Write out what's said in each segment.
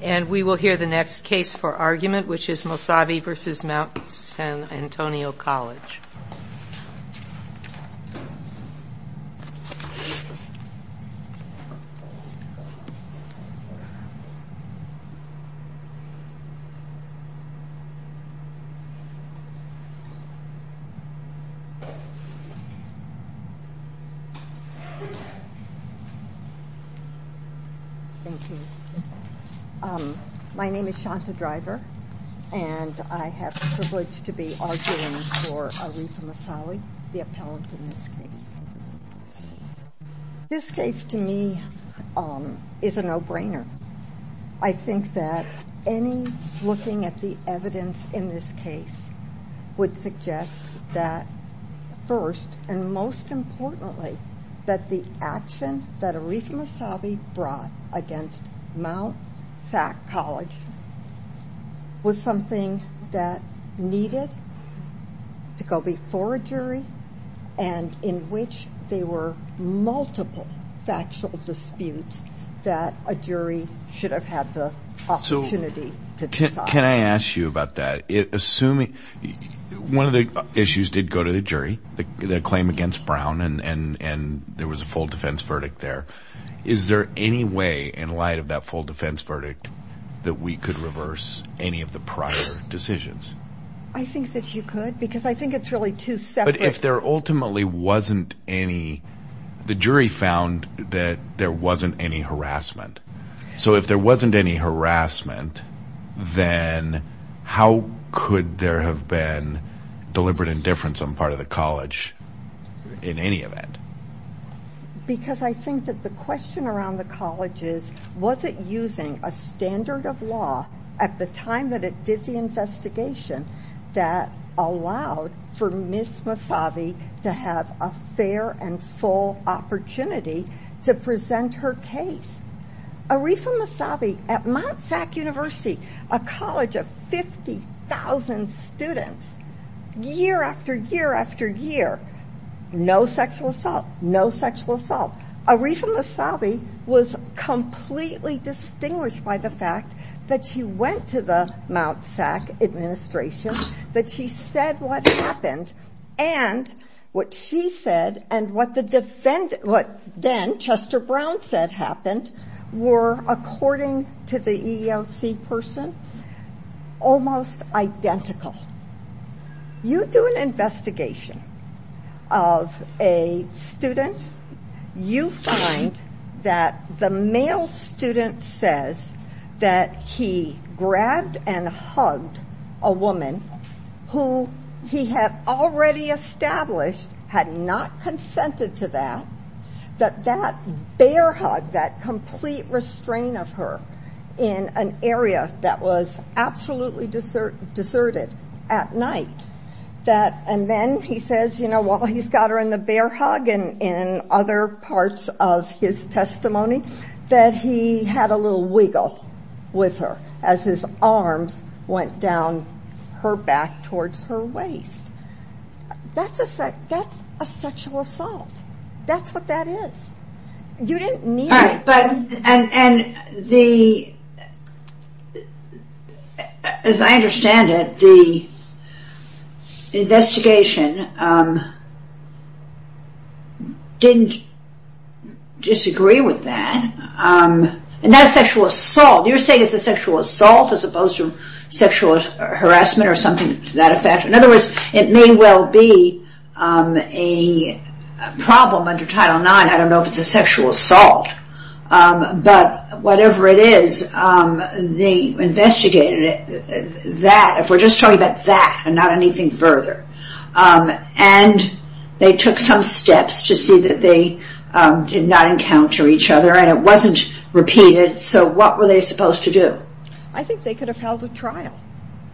And we will hear the next case for argument, which is Mosavi v. Mt. San Antonio College. My name is Shanta Driver, and I have the privilege to be arguing for Aarefah Mosavi, the appellant in this case. This case, to me, is a no-brainer. I think that any looking at the evidence in this case would suggest that, first and most importantly, that the action that Aarefah Mosavi brought against Mt. San Antonio College was something that needed to go before a jury, and in which there were multiple factual disputes that a jury should have had the opportunity to decide. Can I ask you about that? One of the issues did go to the jury, the claim against Brown, and there was a full defense verdict there. Is there any way, in light of that full defense verdict, that we could reverse any of the prior decisions? I think that you could, because I think it's really two separate... How could there have been deliberate indifference on part of the college in any event? Because I think that the question around the college is, was it using a standard of law at the time that it did the investigation that allowed for Ms. Mosavi to have a fair and full opportunity to present her case? Aarefah Mosavi, at Mt. SAC University, a college of 50,000 students, year after year after year, no sexual assault, no sexual assault. Aarefah Mosavi was completely distinguished by the fact that she went to the Mt. SAC administration, that she said what happened, and what she said and what then Chester Brown said happened were, according to the EEOC person, almost identical. You do an investigation of a student, you find that the male student says that he grabbed and hugged a woman who he had already established had not consented to that, that bear hug, that complete restraint of her in an area that was absolutely deserted at night, and then he says while he's got her in the bear hug and other parts of his testimony, that he had a little wiggle with her as his arms went down her back towards her waist. That's a sexual assault. That's what that is. As I understand it, the investigation didn't disagree with that. That sexual assault, you're saying it's a sexual assault as opposed to sexual harassment or something to that effect. In other words, it may well be a problem under Title IX, I don't know if it's a sexual assault, but whatever it is, they investigated that, if we're just talking about that and not anything further, and they took some steps to see that they did not encounter each other and it wasn't repeated, so what were they supposed to do? I think they could have held a trial.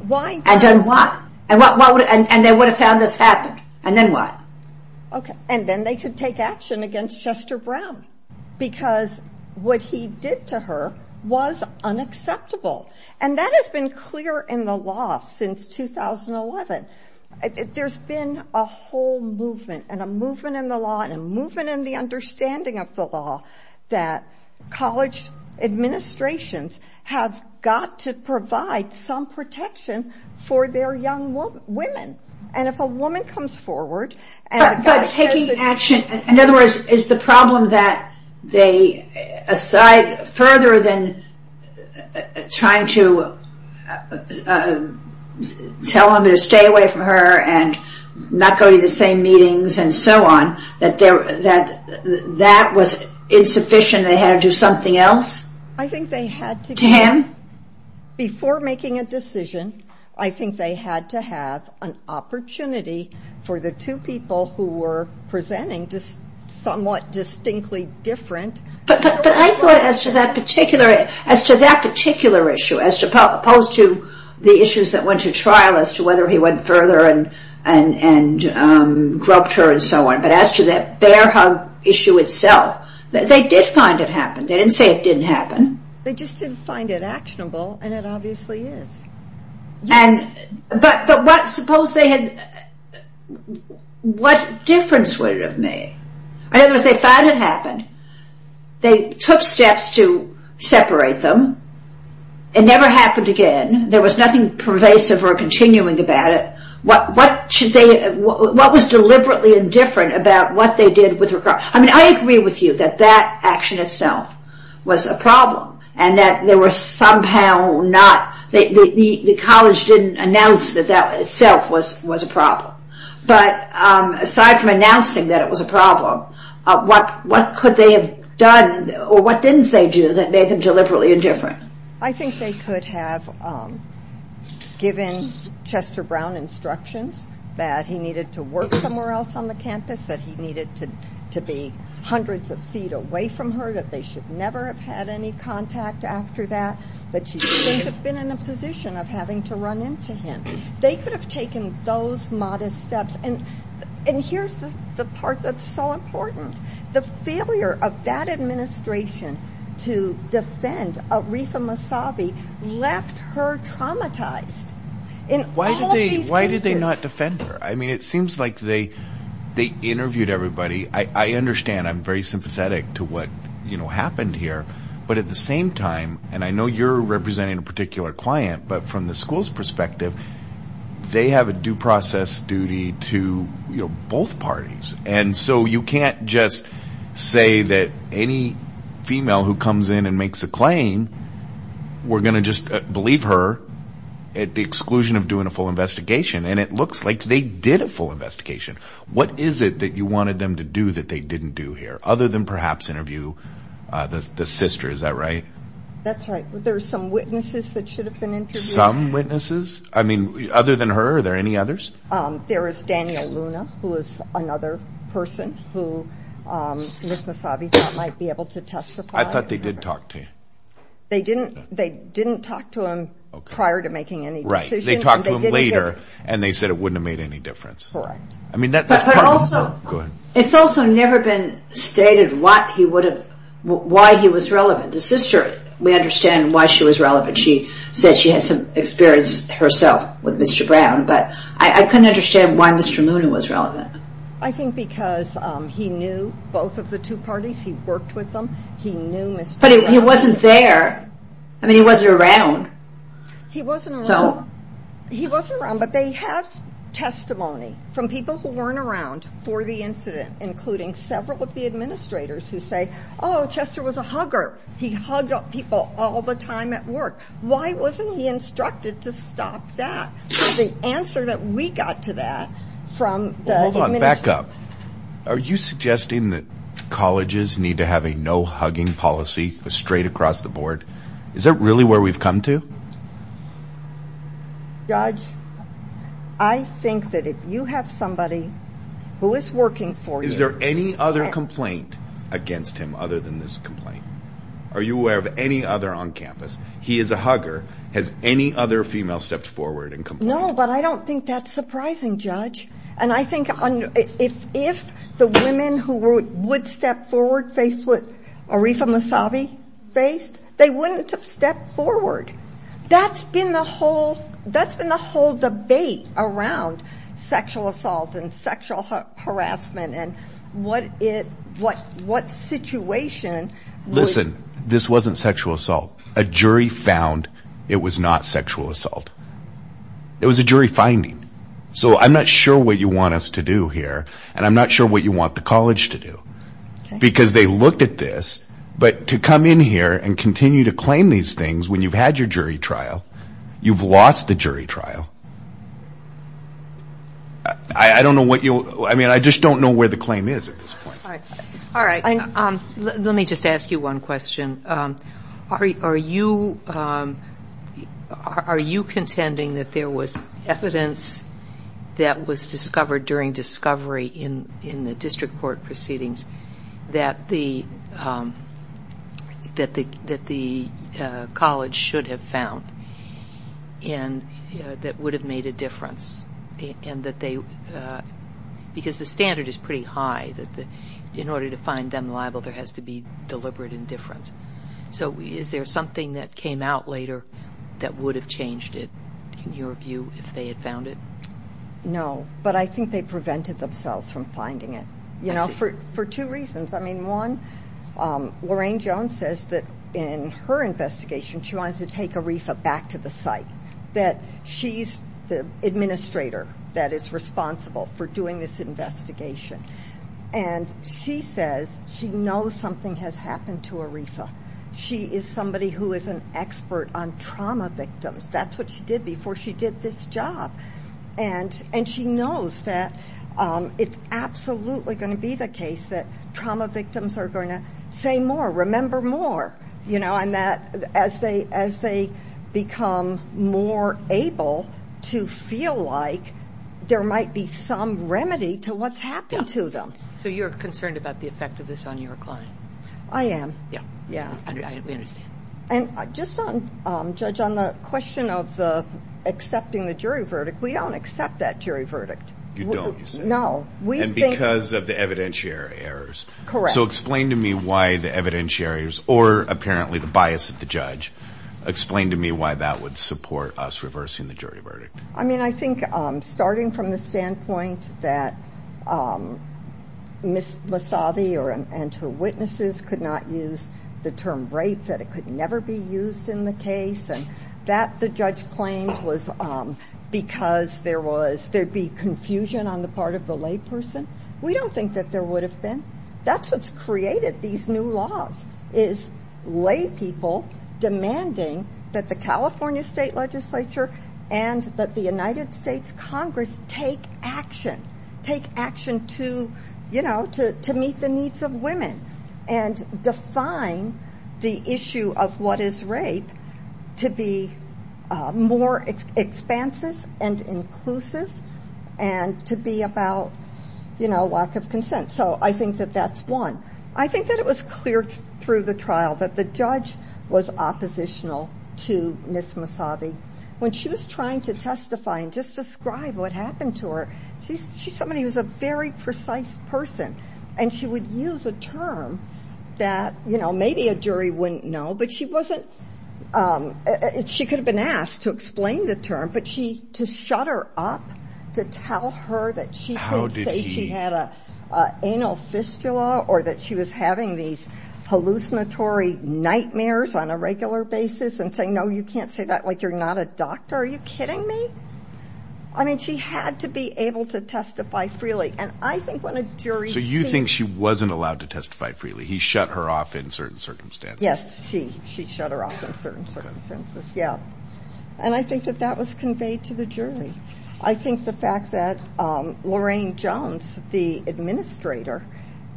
And then what? And they would have found this happened, and then what? And then they could take action against Chester Brown because what he did to her was unacceptable, and that has been clear in the law since 2011. There's been a whole movement and a movement in the law and a movement in the understanding of the law that college administrations have got to provide some protection for their young women. But taking action, in other words, is the problem that aside further than trying to tell them to stay away from her and not go to the same meetings and so on, that that was insufficient, they had to do something else to him? Before making a decision, I think they had to have an opportunity for the two people who were presenting this somewhat distinctly different. But I thought as to that particular issue, as opposed to the issues that went to trial as to whether he went further and grubbed her and so on, but as to that bear hug issue itself, they did find it happened, they didn't say it didn't happen. They just didn't find it actionable, and it obviously is. But what difference would it have made? In other words, they found it happened, they took steps to separate them, it never happened again, there was nothing pervasive or continuing about it. What was deliberately indifferent about what they did with her? I mean, I agree with you that that action itself was a problem, and that there were somehow not, the college didn't announce that that itself was a problem. But aside from announcing that it was a problem, what could they have done, or what didn't they do that made them deliberately indifferent? I think they could have given Chester Brown instructions that he needed to work somewhere else on the campus, that he needed to be hundreds of feet away from her, that they should never have had any contact after that, that she shouldn't have been in a position of having to run into him. They could have taken those modest steps, and here's the part that's so important, the failure of that administration to defend Aretha Massavi left her traumatized in all of these cases. They have a due process duty to both parties, and so you can't just say that any female who comes in and makes a claim, we're going to just believe her at the exclusion of doing a full investigation, and it looks like they did a full investigation. What is it that you wanted them to do that they didn't do here, other than perhaps interview the sister, is that right? That's right, there were some witnesses that should have been interviewed. Other than her, are there any others? There is Daniel Luna, who is another person who Ms. Massavi might be able to testify. I thought they did talk to you. They didn't talk to him prior to making any decisions. Right, they talked to him later, and they said it wouldn't have made any difference. Correct. It's also never been stated why he was relevant. The sister, we understand why she was relevant. She said she had some experience herself with Mr. Brown, but I couldn't understand why Mr. Luna was relevant. I think because he knew both of the two parties. He worked with them. But he wasn't there. I mean, he wasn't around. He wasn't around, but they have testimony from people who weren't around for the incident, including several of the administrators who say, oh, Chester was a hugger. He hugged up people all the time at work. Why wasn't he instructed to stop that? The answer that we got to that from the administration. Well, hold on, back up. Are you suggesting that colleges need to have a no-hugging policy straight across the board? Is that really where we've come to? Judge, I think that if you have somebody who is working for you. Is there any other complaint against him other than this complaint? Are you aware of any other on campus? He is a hugger. Has any other female stepped forward and complained? No, but I don't think that's surprising, Judge. And I think if the women who would step forward faced what Arifa Mousavi faced, they wouldn't have stepped forward. That's been the whole debate around sexual assault and sexual harassment and what situation. Listen, this wasn't sexual assault. A jury found it was not sexual assault. It was a jury finding. So I'm not sure what you want us to do here, and I'm not sure what you want the college to do. Because they looked at this, but to come in here and continue to claim these things when you've had your jury trial, you've lost the jury trial. I don't know what you'll, I mean, I just don't know where the claim is at this point. All right. Let me just ask you one question. Are you contending that there was evidence that was discovered during discovery in the district court proceedings that the college should have found and that would have made a difference? Because the standard is pretty high that in order to find them liable, there has to be deliberate indifference. So is there something that came out later that would have changed it, in your view, if they had found it? No, but I think they prevented themselves from finding it, you know, for two reasons. I mean, one, Lorraine Jones says that in her investigation she wanted to take Arifa back to the site, that she's the administrator that is responsible for doing this investigation. And she says she knows something has happened to Arifa. She is somebody who is an expert on trauma victims. That's what she did before she did this job. And she knows that it's absolutely going to be the case that trauma victims are going to say more, remember more, you know, and that as they become more able to feel like there might be some remedy to what's happened to them. So you're concerned about the effect of this on your client? I am. Yeah, we understand. And just on, Judge, on the question of accepting the jury verdict, we don't accept that jury verdict. You don't, you say? No. And because of the evidentiary errors? Correct. So explain to me why the evidentiary errors, or apparently the bias of the judge, explain to me why that would support us reversing the jury verdict. I mean, I think starting from the standpoint that Ms. Massavi and her witnesses could not use the term rape, that it could never be used in the case, and that the judge claimed was because there was, there'd be confusion on the part of the layperson, we don't think that there would have been. That's what's created these new laws, is laypeople demanding that the California State Legislature and that the United States Congress take action, take action to, you know, to meet the needs of women and define the issue of what is rape to be more expansive and inclusive and to be about, you know, lack of consent. So I think that that's one. I think that it was clear through the trial that the judge was oppositional to Ms. Massavi. When she was trying to testify and just describe what happened to her, she's somebody who's a very precise person, and she would use a term that, you know, maybe a jury wouldn't know, but she wasn't, she could have been asked to explain the term, but she, to shut her up, to tell her that she could say she had an anal fistula or that she was having these hallucinatory nightmares on a regular basis and say, no, you can't say that like you're not a doctor. Are you kidding me? I mean, she had to be able to testify freely, and I think when a jury sees it. So you think she wasn't allowed to testify freely. He shut her off in certain circumstances. Yes, she shut her off in certain circumstances, yeah. And I think that that was conveyed to the jury. I think the fact that Lorraine Jones, the administrator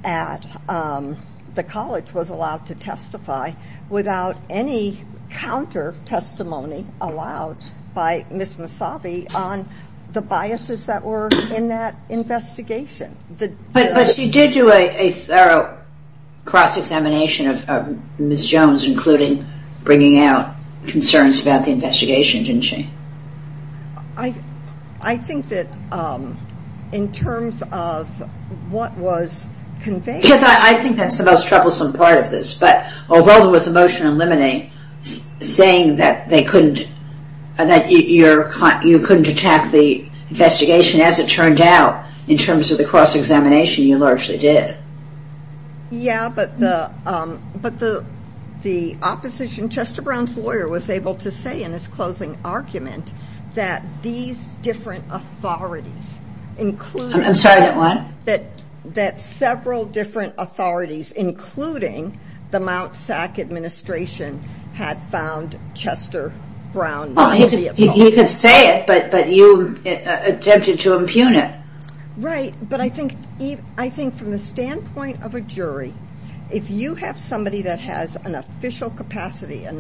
at the college, was allowed to testify without any counter-testimony allowed by Ms. Massavi on the biases that were in that investigation. But she did do a thorough cross-examination of Ms. Jones, including bringing out concerns about the investigation, didn't she? I think that in terms of what was conveyed. Yes, I think that's the most troublesome part of this, but although there was a motion in Limine saying that you couldn't attack the investigation as it turned out, in terms of the cross-examination, you largely did. Yeah, but the opposition, Chester Brown's lawyer, was able to say in his closing argument that these different authorities, including... I'm sorry, that what? That several different authorities, including the Mt. SAC administration, had found Chester Brown... He could say it, but you attempted to impugn it. Right, but I think from the standpoint of a jury, if you have somebody that has an official capacity, they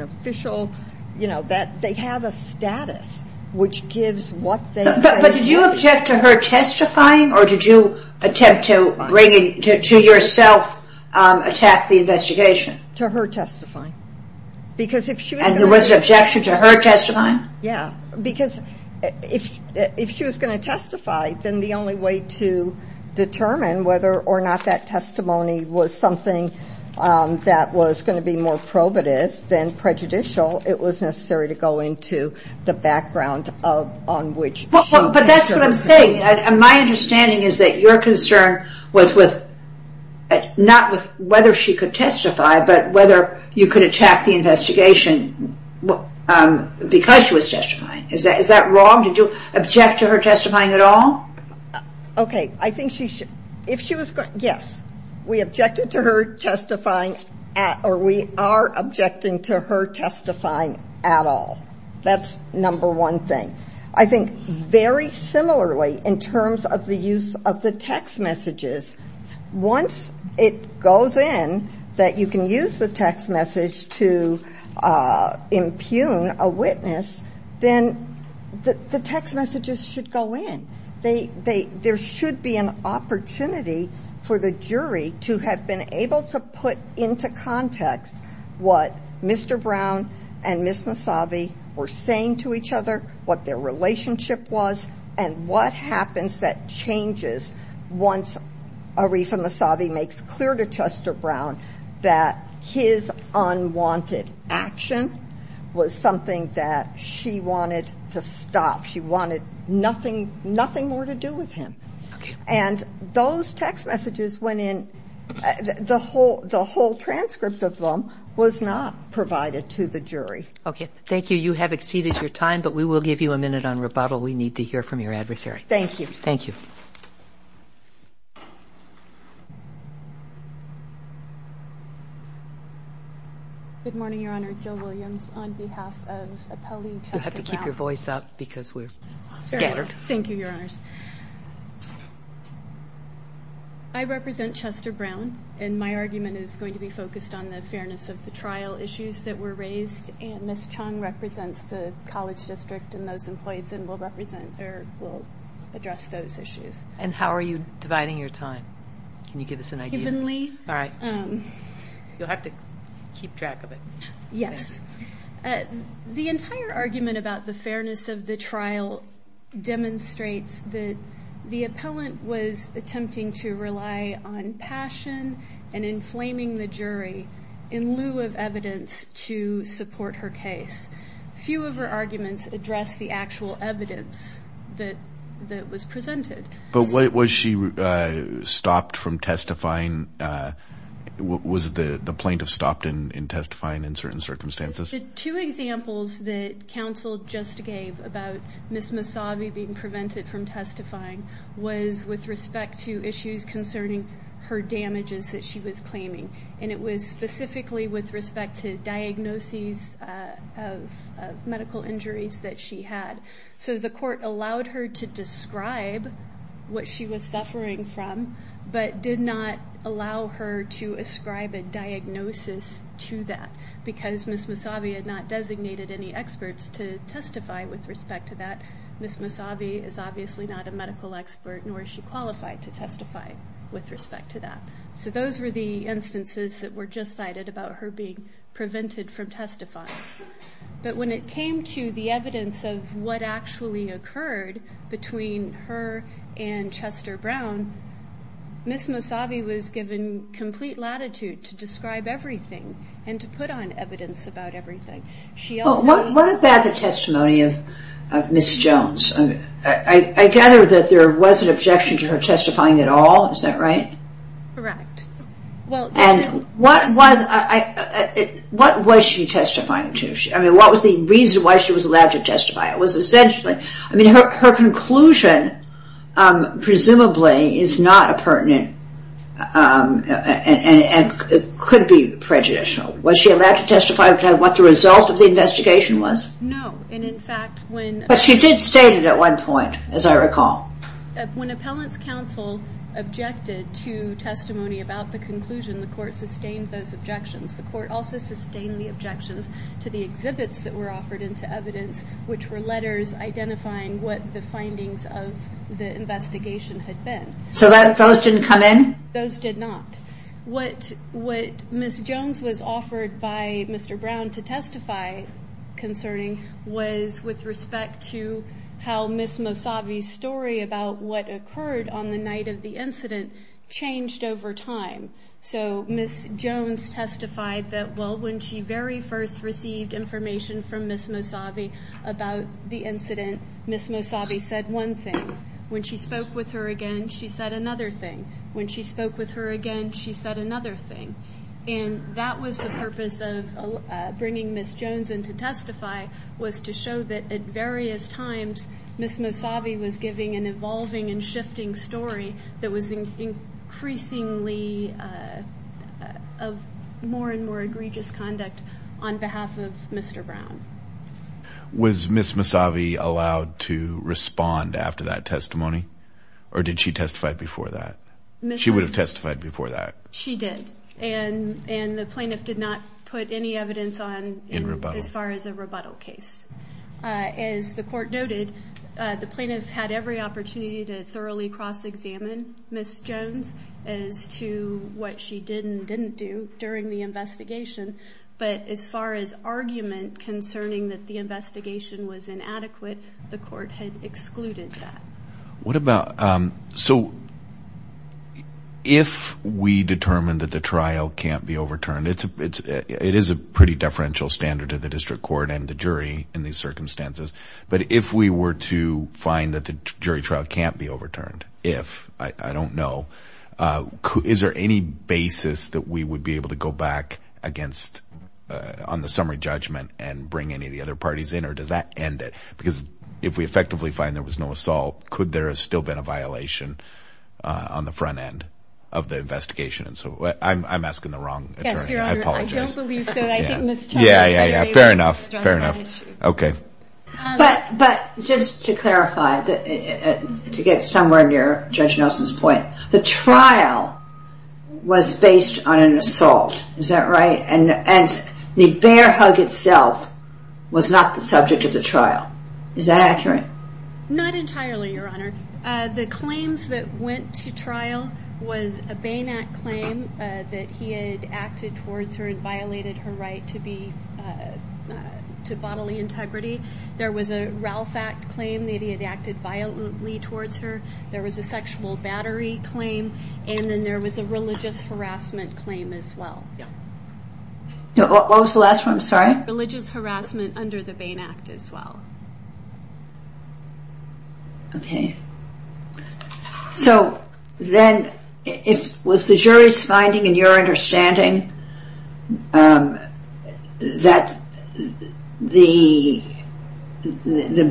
have a status which gives what they... But did you object to her testifying, or did you attempt to yourself attack the investigation? To her testifying. And there was an objection to her testifying? Yeah, because if she was going to testify, then the only way to determine whether or not that testimony was something that was going to be more probative than prejudicial, it was necessary to go into the background on which... But that's what I'm saying. My understanding is that your concern was not with whether she could testify, but whether you could attack the investigation because she was testifying. Is that wrong? Did you object to her testifying at all? Okay, I think she should... If she was going... Yes, we objected to her testifying, or we are objecting to her testifying at all. That's number one thing. I think very similarly, in terms of the use of the text messages, once it goes in that you can use the text message to impugn a witness, then the text messages should go in. There should be an opportunity for the jury to have been able to put into context what Mr. Brown and Ms. Massavi were saying to each other, what their relationship was, and what happens that changes once Arifa Massavi makes clear to Chester Brown that his unwanted action was something that she wanted to stop. She wanted nothing more to do with him. And those text messages went in. The whole transcript of them was not provided to the jury. Okay, thank you. You have exceeded your time, but we will give you a minute on rebuttal. We need to hear from your adversary. Thank you. Thank you. Good morning, Your Honor. Jill Williams on behalf of appellee Chester Brown. You'll have to keep your voice up because we're scattered. Thank you, Your Honors. I represent Chester Brown, and my argument is going to be focused on the fairness of the trial issues that were raised, and Ms. Chung represents the college district and those employees and will address those issues. And how are you dividing your time? Can you give us an idea? Evenly. All right. You'll have to keep track of it. Yes. The entire argument about the fairness of the trial demonstrates that the appellant was attempting to rely on passion and inflaming the jury in lieu of evidence to support her case. Few of her arguments address the actual evidence that was presented. But was she stopped from testifying? Was the plaintiff stopped in testifying in certain circumstances? The two examples that counsel just gave about Ms. Massavi being prevented from testifying was with respect to issues concerning her damages that she was claiming, and it was specifically with respect to diagnoses of medical injuries that she had. So the court allowed her to describe what she was suffering from but did not allow her to ascribe a diagnosis to that because Ms. Massavi had not designated any experts to testify with respect to that. Ms. Massavi is obviously not a medical expert, nor is she qualified to testify with respect to that. So those were the instances that were just cited about her being prevented from testifying. But when it came to the evidence of what actually occurred between her and Chester Brown, Ms. Massavi was given complete latitude to describe everything and to put on evidence about everything. What about the testimony of Ms. Jones? I gather that there was an objection to her testifying at all, is that right? Correct. And what was she testifying to? What was the reason why she was allowed to testify? Her conclusion presumably is not pertinent and could be prejudicial. Was she allowed to testify about what the result of the investigation was? No. But she did state it at one point, as I recall. When Appellants Council objected to testimony about the conclusion, the court sustained those objections. The court also sustained the objections to the exhibits that were offered into evidence, which were letters identifying what the findings of the investigation had been. So those didn't come in? Those did not. What Ms. Jones was offered by Mr. Brown to testify concerning was with respect to how Ms. Massavi's story about what occurred on the night of the incident changed over time. So Ms. Jones testified that, well, when she very first received information from Ms. Massavi about the incident, Ms. Massavi said one thing. When she spoke with her again, she said another thing. And that was the purpose of bringing Ms. Jones in to testify, was to show that at various times, Ms. Massavi was giving an evolving and shifting story that was increasingly of more and more egregious conduct on behalf of Mr. Brown. Was Ms. Massavi allowed to respond after that testimony, or did she testify before that? She would have testified before that. She did, and the plaintiff did not put any evidence on as far as a rebuttal case. As the court noted, the plaintiff had every opportunity to thoroughly cross-examine Ms. Jones as to what she did and didn't do during the investigation. But as far as argument concerning that the investigation was inadequate, the court had excluded that. So if we determine that the trial can't be overturned, it is a pretty deferential standard to the district court and the jury in these circumstances, but if we were to find that the jury trial can't be overturned, if, I don't know, is there any basis that we would be able to go back on the summary judgment and bring any of the other parties in, or does that end it? Because if we effectively find there was no assault, could there have still been a violation on the front end of the investigation? So I'm asking the wrong attorney. I apologize. I don't believe so. I think Ms. Jones had an issue. Fair enough. Fair enough. Okay. But just to clarify, to get somewhere near Judge Nelson's point, the trial was based on an assault. Is that right? And the bear hug itself was not the subject of the trial. Is that accurate? Not entirely, Your Honor. The claims that went to trial was a Bain Act claim that he had acted towards her and violated her right to bodily integrity. There was a Ralph Act claim that he had acted violently towards her. There was a sexual battery claim, and then there was a religious harassment claim as well. What was the last one? I'm sorry. Religious harassment under the Bain Act as well. Okay. So then, was the jury's finding, in your understanding, that the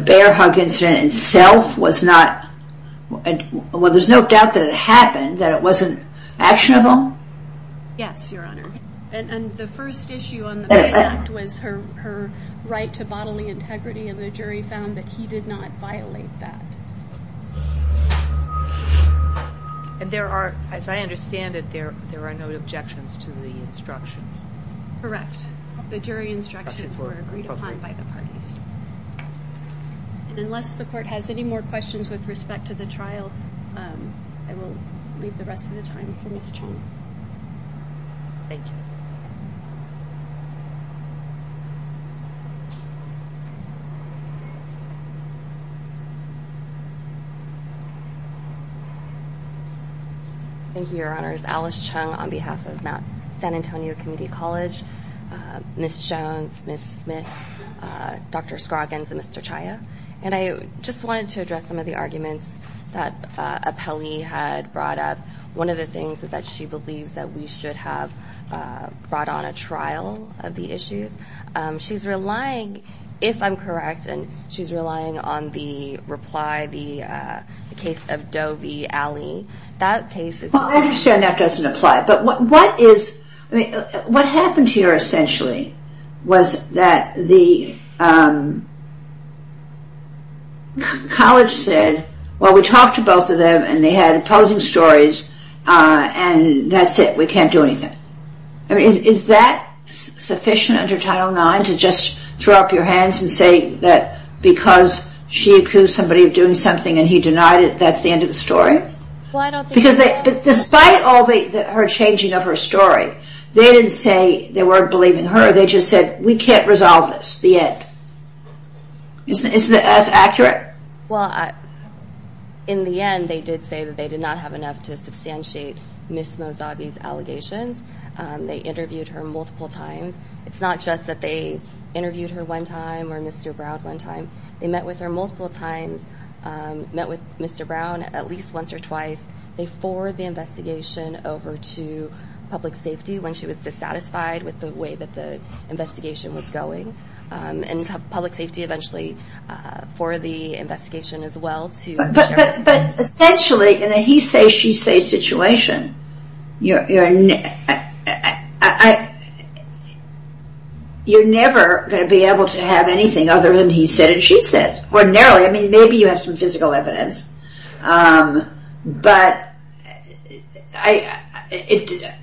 bear hug incident itself was not, well, there's no doubt that it happened, that it wasn't actionable? Yes, Your Honor. And the first issue on the Bain Act was her right to bodily integrity, and the jury found that he did not violate that. And there are, as I understand it, there are no objections to the instructions. Correct. The jury instructions were agreed upon by the parties. And unless the court has any more questions with respect to the trial, I will leave the rest of the time for Ms. Chung. Thank you. Thank you, Your Honors. Alice Chung on behalf of San Antonio Community College. Ms. Jones, Ms. Smith, Dr. Scroggins, and Mr. Chaya. And I just wanted to address some of the arguments that Appelli had brought up. One of the things is that she believes that we should have brought on a trial of the issues. She's relying, if I'm correct, and she's relying on the reply, the case of Dovi Alley. That case is- Well, I understand that doesn't apply. But what happened here essentially was that the college said, well, we talked to both of them and they had opposing stories, and that's it, we can't do anything. Is that sufficient under Title IX to just throw up your hands and say that because she accused somebody of doing something and he denied it, that's the end of the story? Why don't they- Because despite all her changing of her story, they didn't say they weren't believing her. They just said, we can't resolve this, the end. Isn't that as accurate? Well, in the end, they did say that they did not have enough to substantiate Ms. Mozavi's allegations. They interviewed her multiple times. It's not just that they interviewed her one time or Mr. Brown one time. They met with her multiple times, met with Mr. Brown at least once or twice. They forwarded the investigation over to public safety when she was dissatisfied with the way that the investigation was going. And public safety eventually forwarded the investigation as well to- But essentially, in a he say, she say situation, you're never going to be able to have anything other than he said and she said. Ordinarily, I mean, maybe you have some physical evidence. But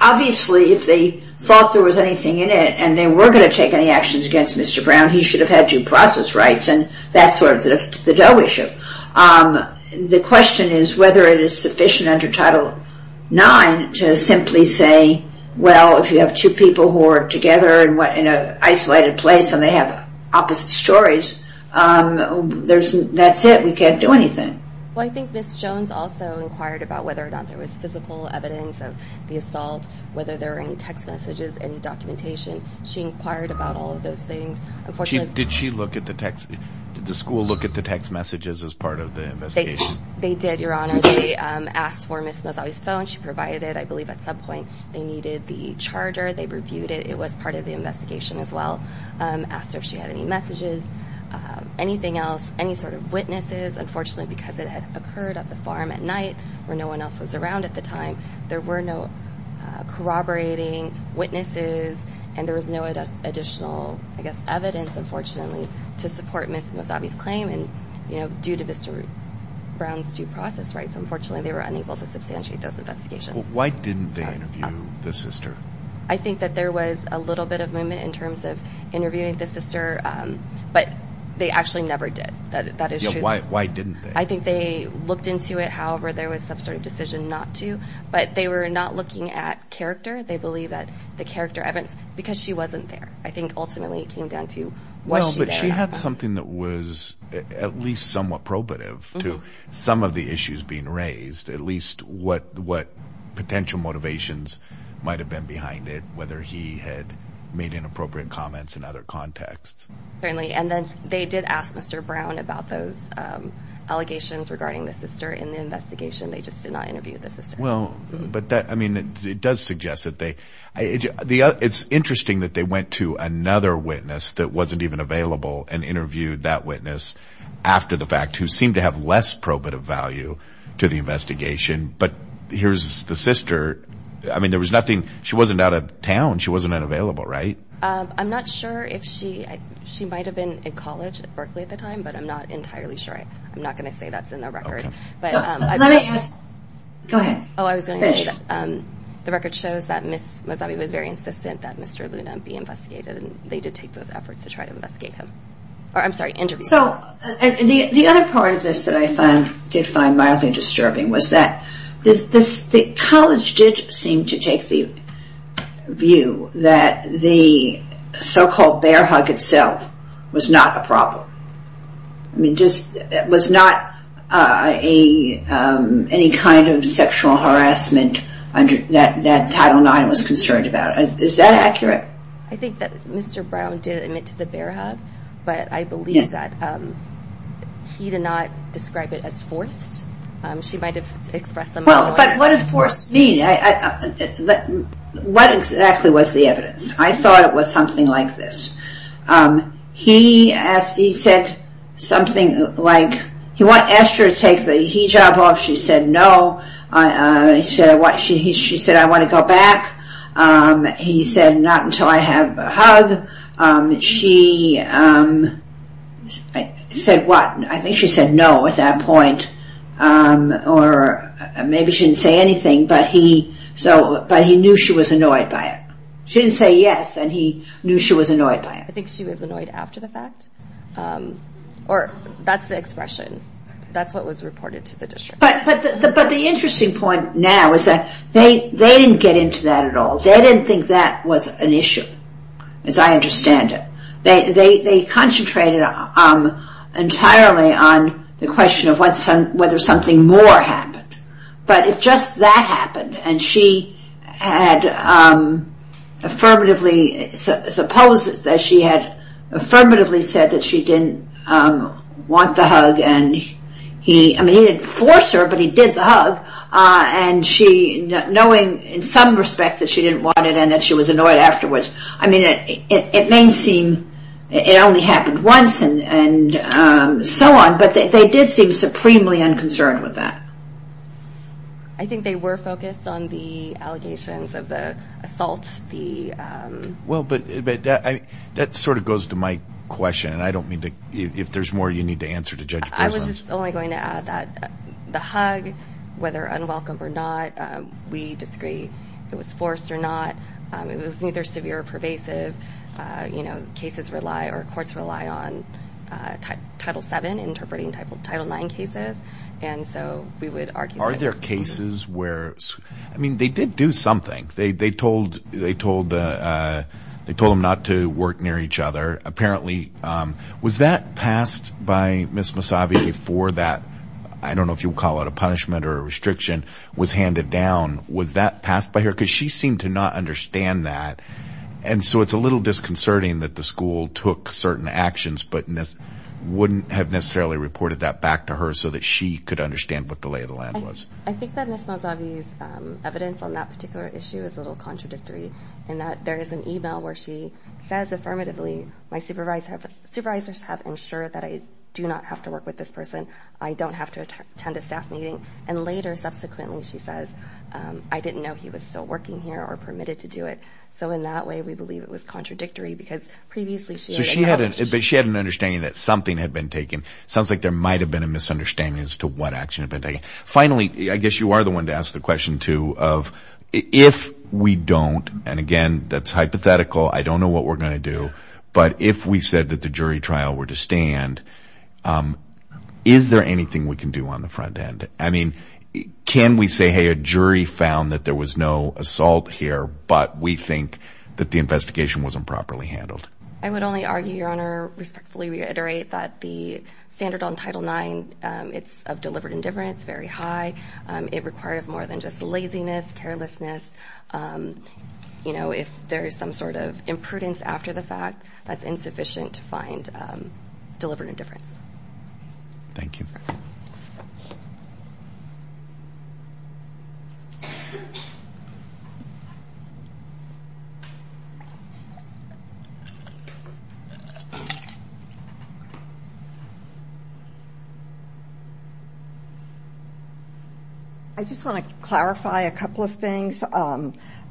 obviously, if they thought there was anything in it and they were going to take any actions against Mr. Brown, he should have had due process rights and that's sort of the dough issue. The question is whether it is sufficient under Title IX to simply say, well, if you have two people who are together in an isolated place and they have opposite stories, that's it. You can't do anything. Well, I think Ms. Jones also inquired about whether or not there was physical evidence of the assault, whether there were any text messages, any documentation. She inquired about all of those things. Unfortunately- Did she look at the text? Did the school look at the text messages as part of the investigation? They did, Your Honor. They asked for Ms. Mazzotti's phone. She provided it. I believe at some point they needed the charger. They reviewed it. It was part of the investigation as well. Asked her if she had any messages, anything else, any sort of witnesses. Unfortunately, because it had occurred at the farm at night where no one else was around at the time, there were no corroborating witnesses and there was no additional, I guess, evidence, unfortunately, to support Ms. Mazzotti's claim due to Mr. Brown's due process rights. Unfortunately, they were unable to substantiate those investigations. Why didn't they interview the sister? I think that there was a little bit of movement in terms of interviewing the sister, but they actually never did. That is true. Why didn't they? I think they looked into it. However, there was some sort of decision not to, but they were not looking at character. They believe that the character evidence, because she wasn't there, I think ultimately it came down to was she there at the time. Well, but she had something that was at least somewhat probative to some of the issues being raised, at least what potential motivations might have been behind it, whether he had made inappropriate comments in other contexts. Certainly, and then they did ask Mr. Brown about those allegations regarding the sister in the investigation. They just did not interview the sister. Well, but that, I mean, it does suggest that they, it's interesting that they went to another witness that wasn't even available and interviewed that witness after the fact who seemed to have less probative value to the investigation, but here's the sister. I mean, there was nothing. She wasn't out of town. She wasn't unavailable, right? I'm not sure if she, she might have been in college at Berkeley at the time, but I'm not entirely sure. I'm not going to say that's in the record. Go ahead. Oh, I was going to say that. Finish. The record shows that Ms. Mazzotti was very insistent that Mr. Luna be investigated and they did take those efforts to try to investigate him. I'm sorry, interview him. So, the other part of this that I did find mildly disturbing was that the college did seem to take the view that the so-called bear hug itself was not a problem. I mean, it was not any kind of sexual harassment that Title IX was concerned about. Is that accurate? I think that Mr. Brown did admit to the bear hug, but I believe that he did not describe it as forced. She might have expressed them otherwise. Well, but what does forced mean? What exactly was the evidence? I thought it was something like this. He said something like, he asked her to take the hijab off. She said no. She said, I want to go back. He said, not until I have a hug. She said what? I think she said no at that point, or maybe she didn't say anything, but he knew she was annoyed by it. She didn't say yes, and he knew she was annoyed by it. I think she was annoyed after the fact, or that's the expression. That's what was reported to the district. But the interesting point now is that they didn't get into that at all. They didn't think that was an issue, as I understand it. They concentrated entirely on the question of whether something more happened. But if just that happened, and she had affirmatively said that she didn't want the hug, and he didn't force her, but he did the hug, and knowing in some respect that she didn't want it and that she was annoyed afterwards, it may seem it only happened once and so on, but they did seem supremely unconcerned with that. I think they were focused on the allegations of the assault. Well, but that sort of goes to my question, and I don't mean to, if there's more you need to answer to Judge Breslin. I was just only going to add that the hug, whether unwelcome or not, we disagree it was forced or not. It was neither severe or pervasive. Cases rely or courts rely on Title VII interpreting Title IX cases, and so we would argue that it was. Are there cases where, I mean, they did do something. They told them not to work near each other. Apparently, was that passed by Ms. Massabi before that, I don't know if you would call it a punishment or a restriction, was handed down? Was that passed by her? Because she seemed to not understand that, and so it's a little disconcerting that the school took certain actions but wouldn't have necessarily reported that back to her so that she could understand what the lay of the land was. I think that Ms. Massabi's evidence on that particular issue is a little contradictory in that there is an e-mail where she says affirmatively, my supervisors have ensured that I do not have to work with this person, I don't have to attend a staff meeting, and later, subsequently, she says, I didn't know he was still working here or permitted to do it. So in that way, we believe it was contradictory because previously she had acknowledged. So she had an understanding that something had been taken. It sounds like there might have been a misunderstanding as to what action had been taken. Finally, I guess you are the one to ask the question, too, of if we don't, and again, that's hypothetical, I don't know what we're going to do, but if we said that the jury trial were to stand, is there anything we can do on the front end? I mean, can we say, hey, a jury found that there was no assault here, but we think that the investigation was improperly handled? I would only argue, Your Honor, respectfully reiterate that the standard on Title IX, it's of deliberate indifference, very high. It requires more than just laziness, carelessness. If there is some sort of imprudence after the fact, that's insufficient to find deliberate indifference. Thank you. I just want to clarify a couple of things.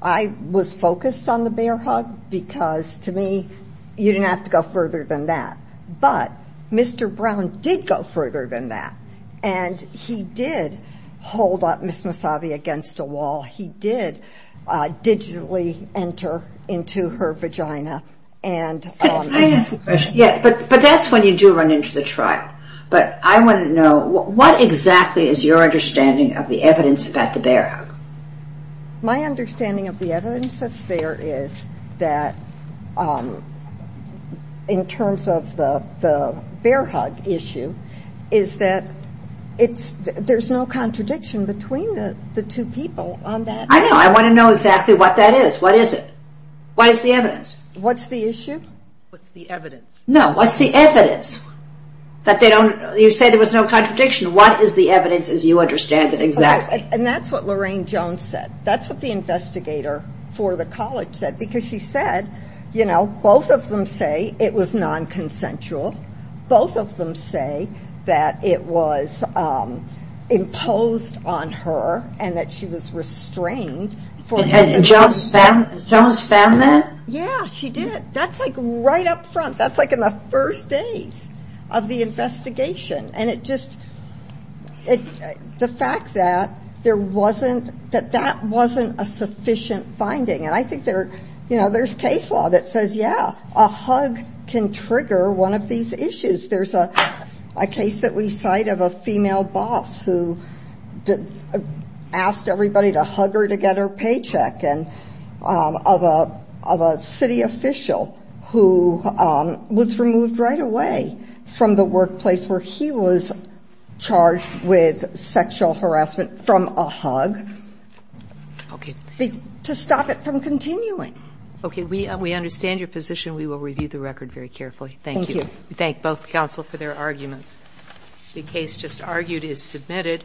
I was focused on the bear hug because, to me, you didn't have to go further than that, but Mr. Brown did go further than that, and he did hold up Ms. Massavi against a wall. He did digitally enter into her vagina. But that's when you do run into the trial, but I want to know what exactly is your understanding of the evidence about the bear hug? My understanding of the evidence that's there is that, in terms of the bear hug issue, is that there's no contradiction between the two people on that issue. I know. I want to know exactly what that is. What is it? What is the evidence? What's the issue? What's the evidence? No. What's the evidence? You said there was no contradiction. What is the evidence as you understand it exactly? And that's what Lorraine Jones said. That's what the investigator for the college said because she said, you know, both of them say it was non-consensual. Both of them say that it was imposed on her and that she was restrained. And Jones found that? Yeah, she did. That's like right up front. That's like in the first days of the investigation. And it just the fact that there wasn't that that wasn't a sufficient finding. And I think there's case law that says, yeah, a hug can trigger one of these issues. There's a case that we cite of a female boss who asked everybody to hug her to get her paycheck, and of a city official who was removed right away from the workplace where he was charged with sexual harassment from a hug. Okay. To stop it from continuing. Okay. We understand your position. We will review the record very carefully. Thank you. Thank you. Thank both counsel for their arguments. The case just argued is submitted.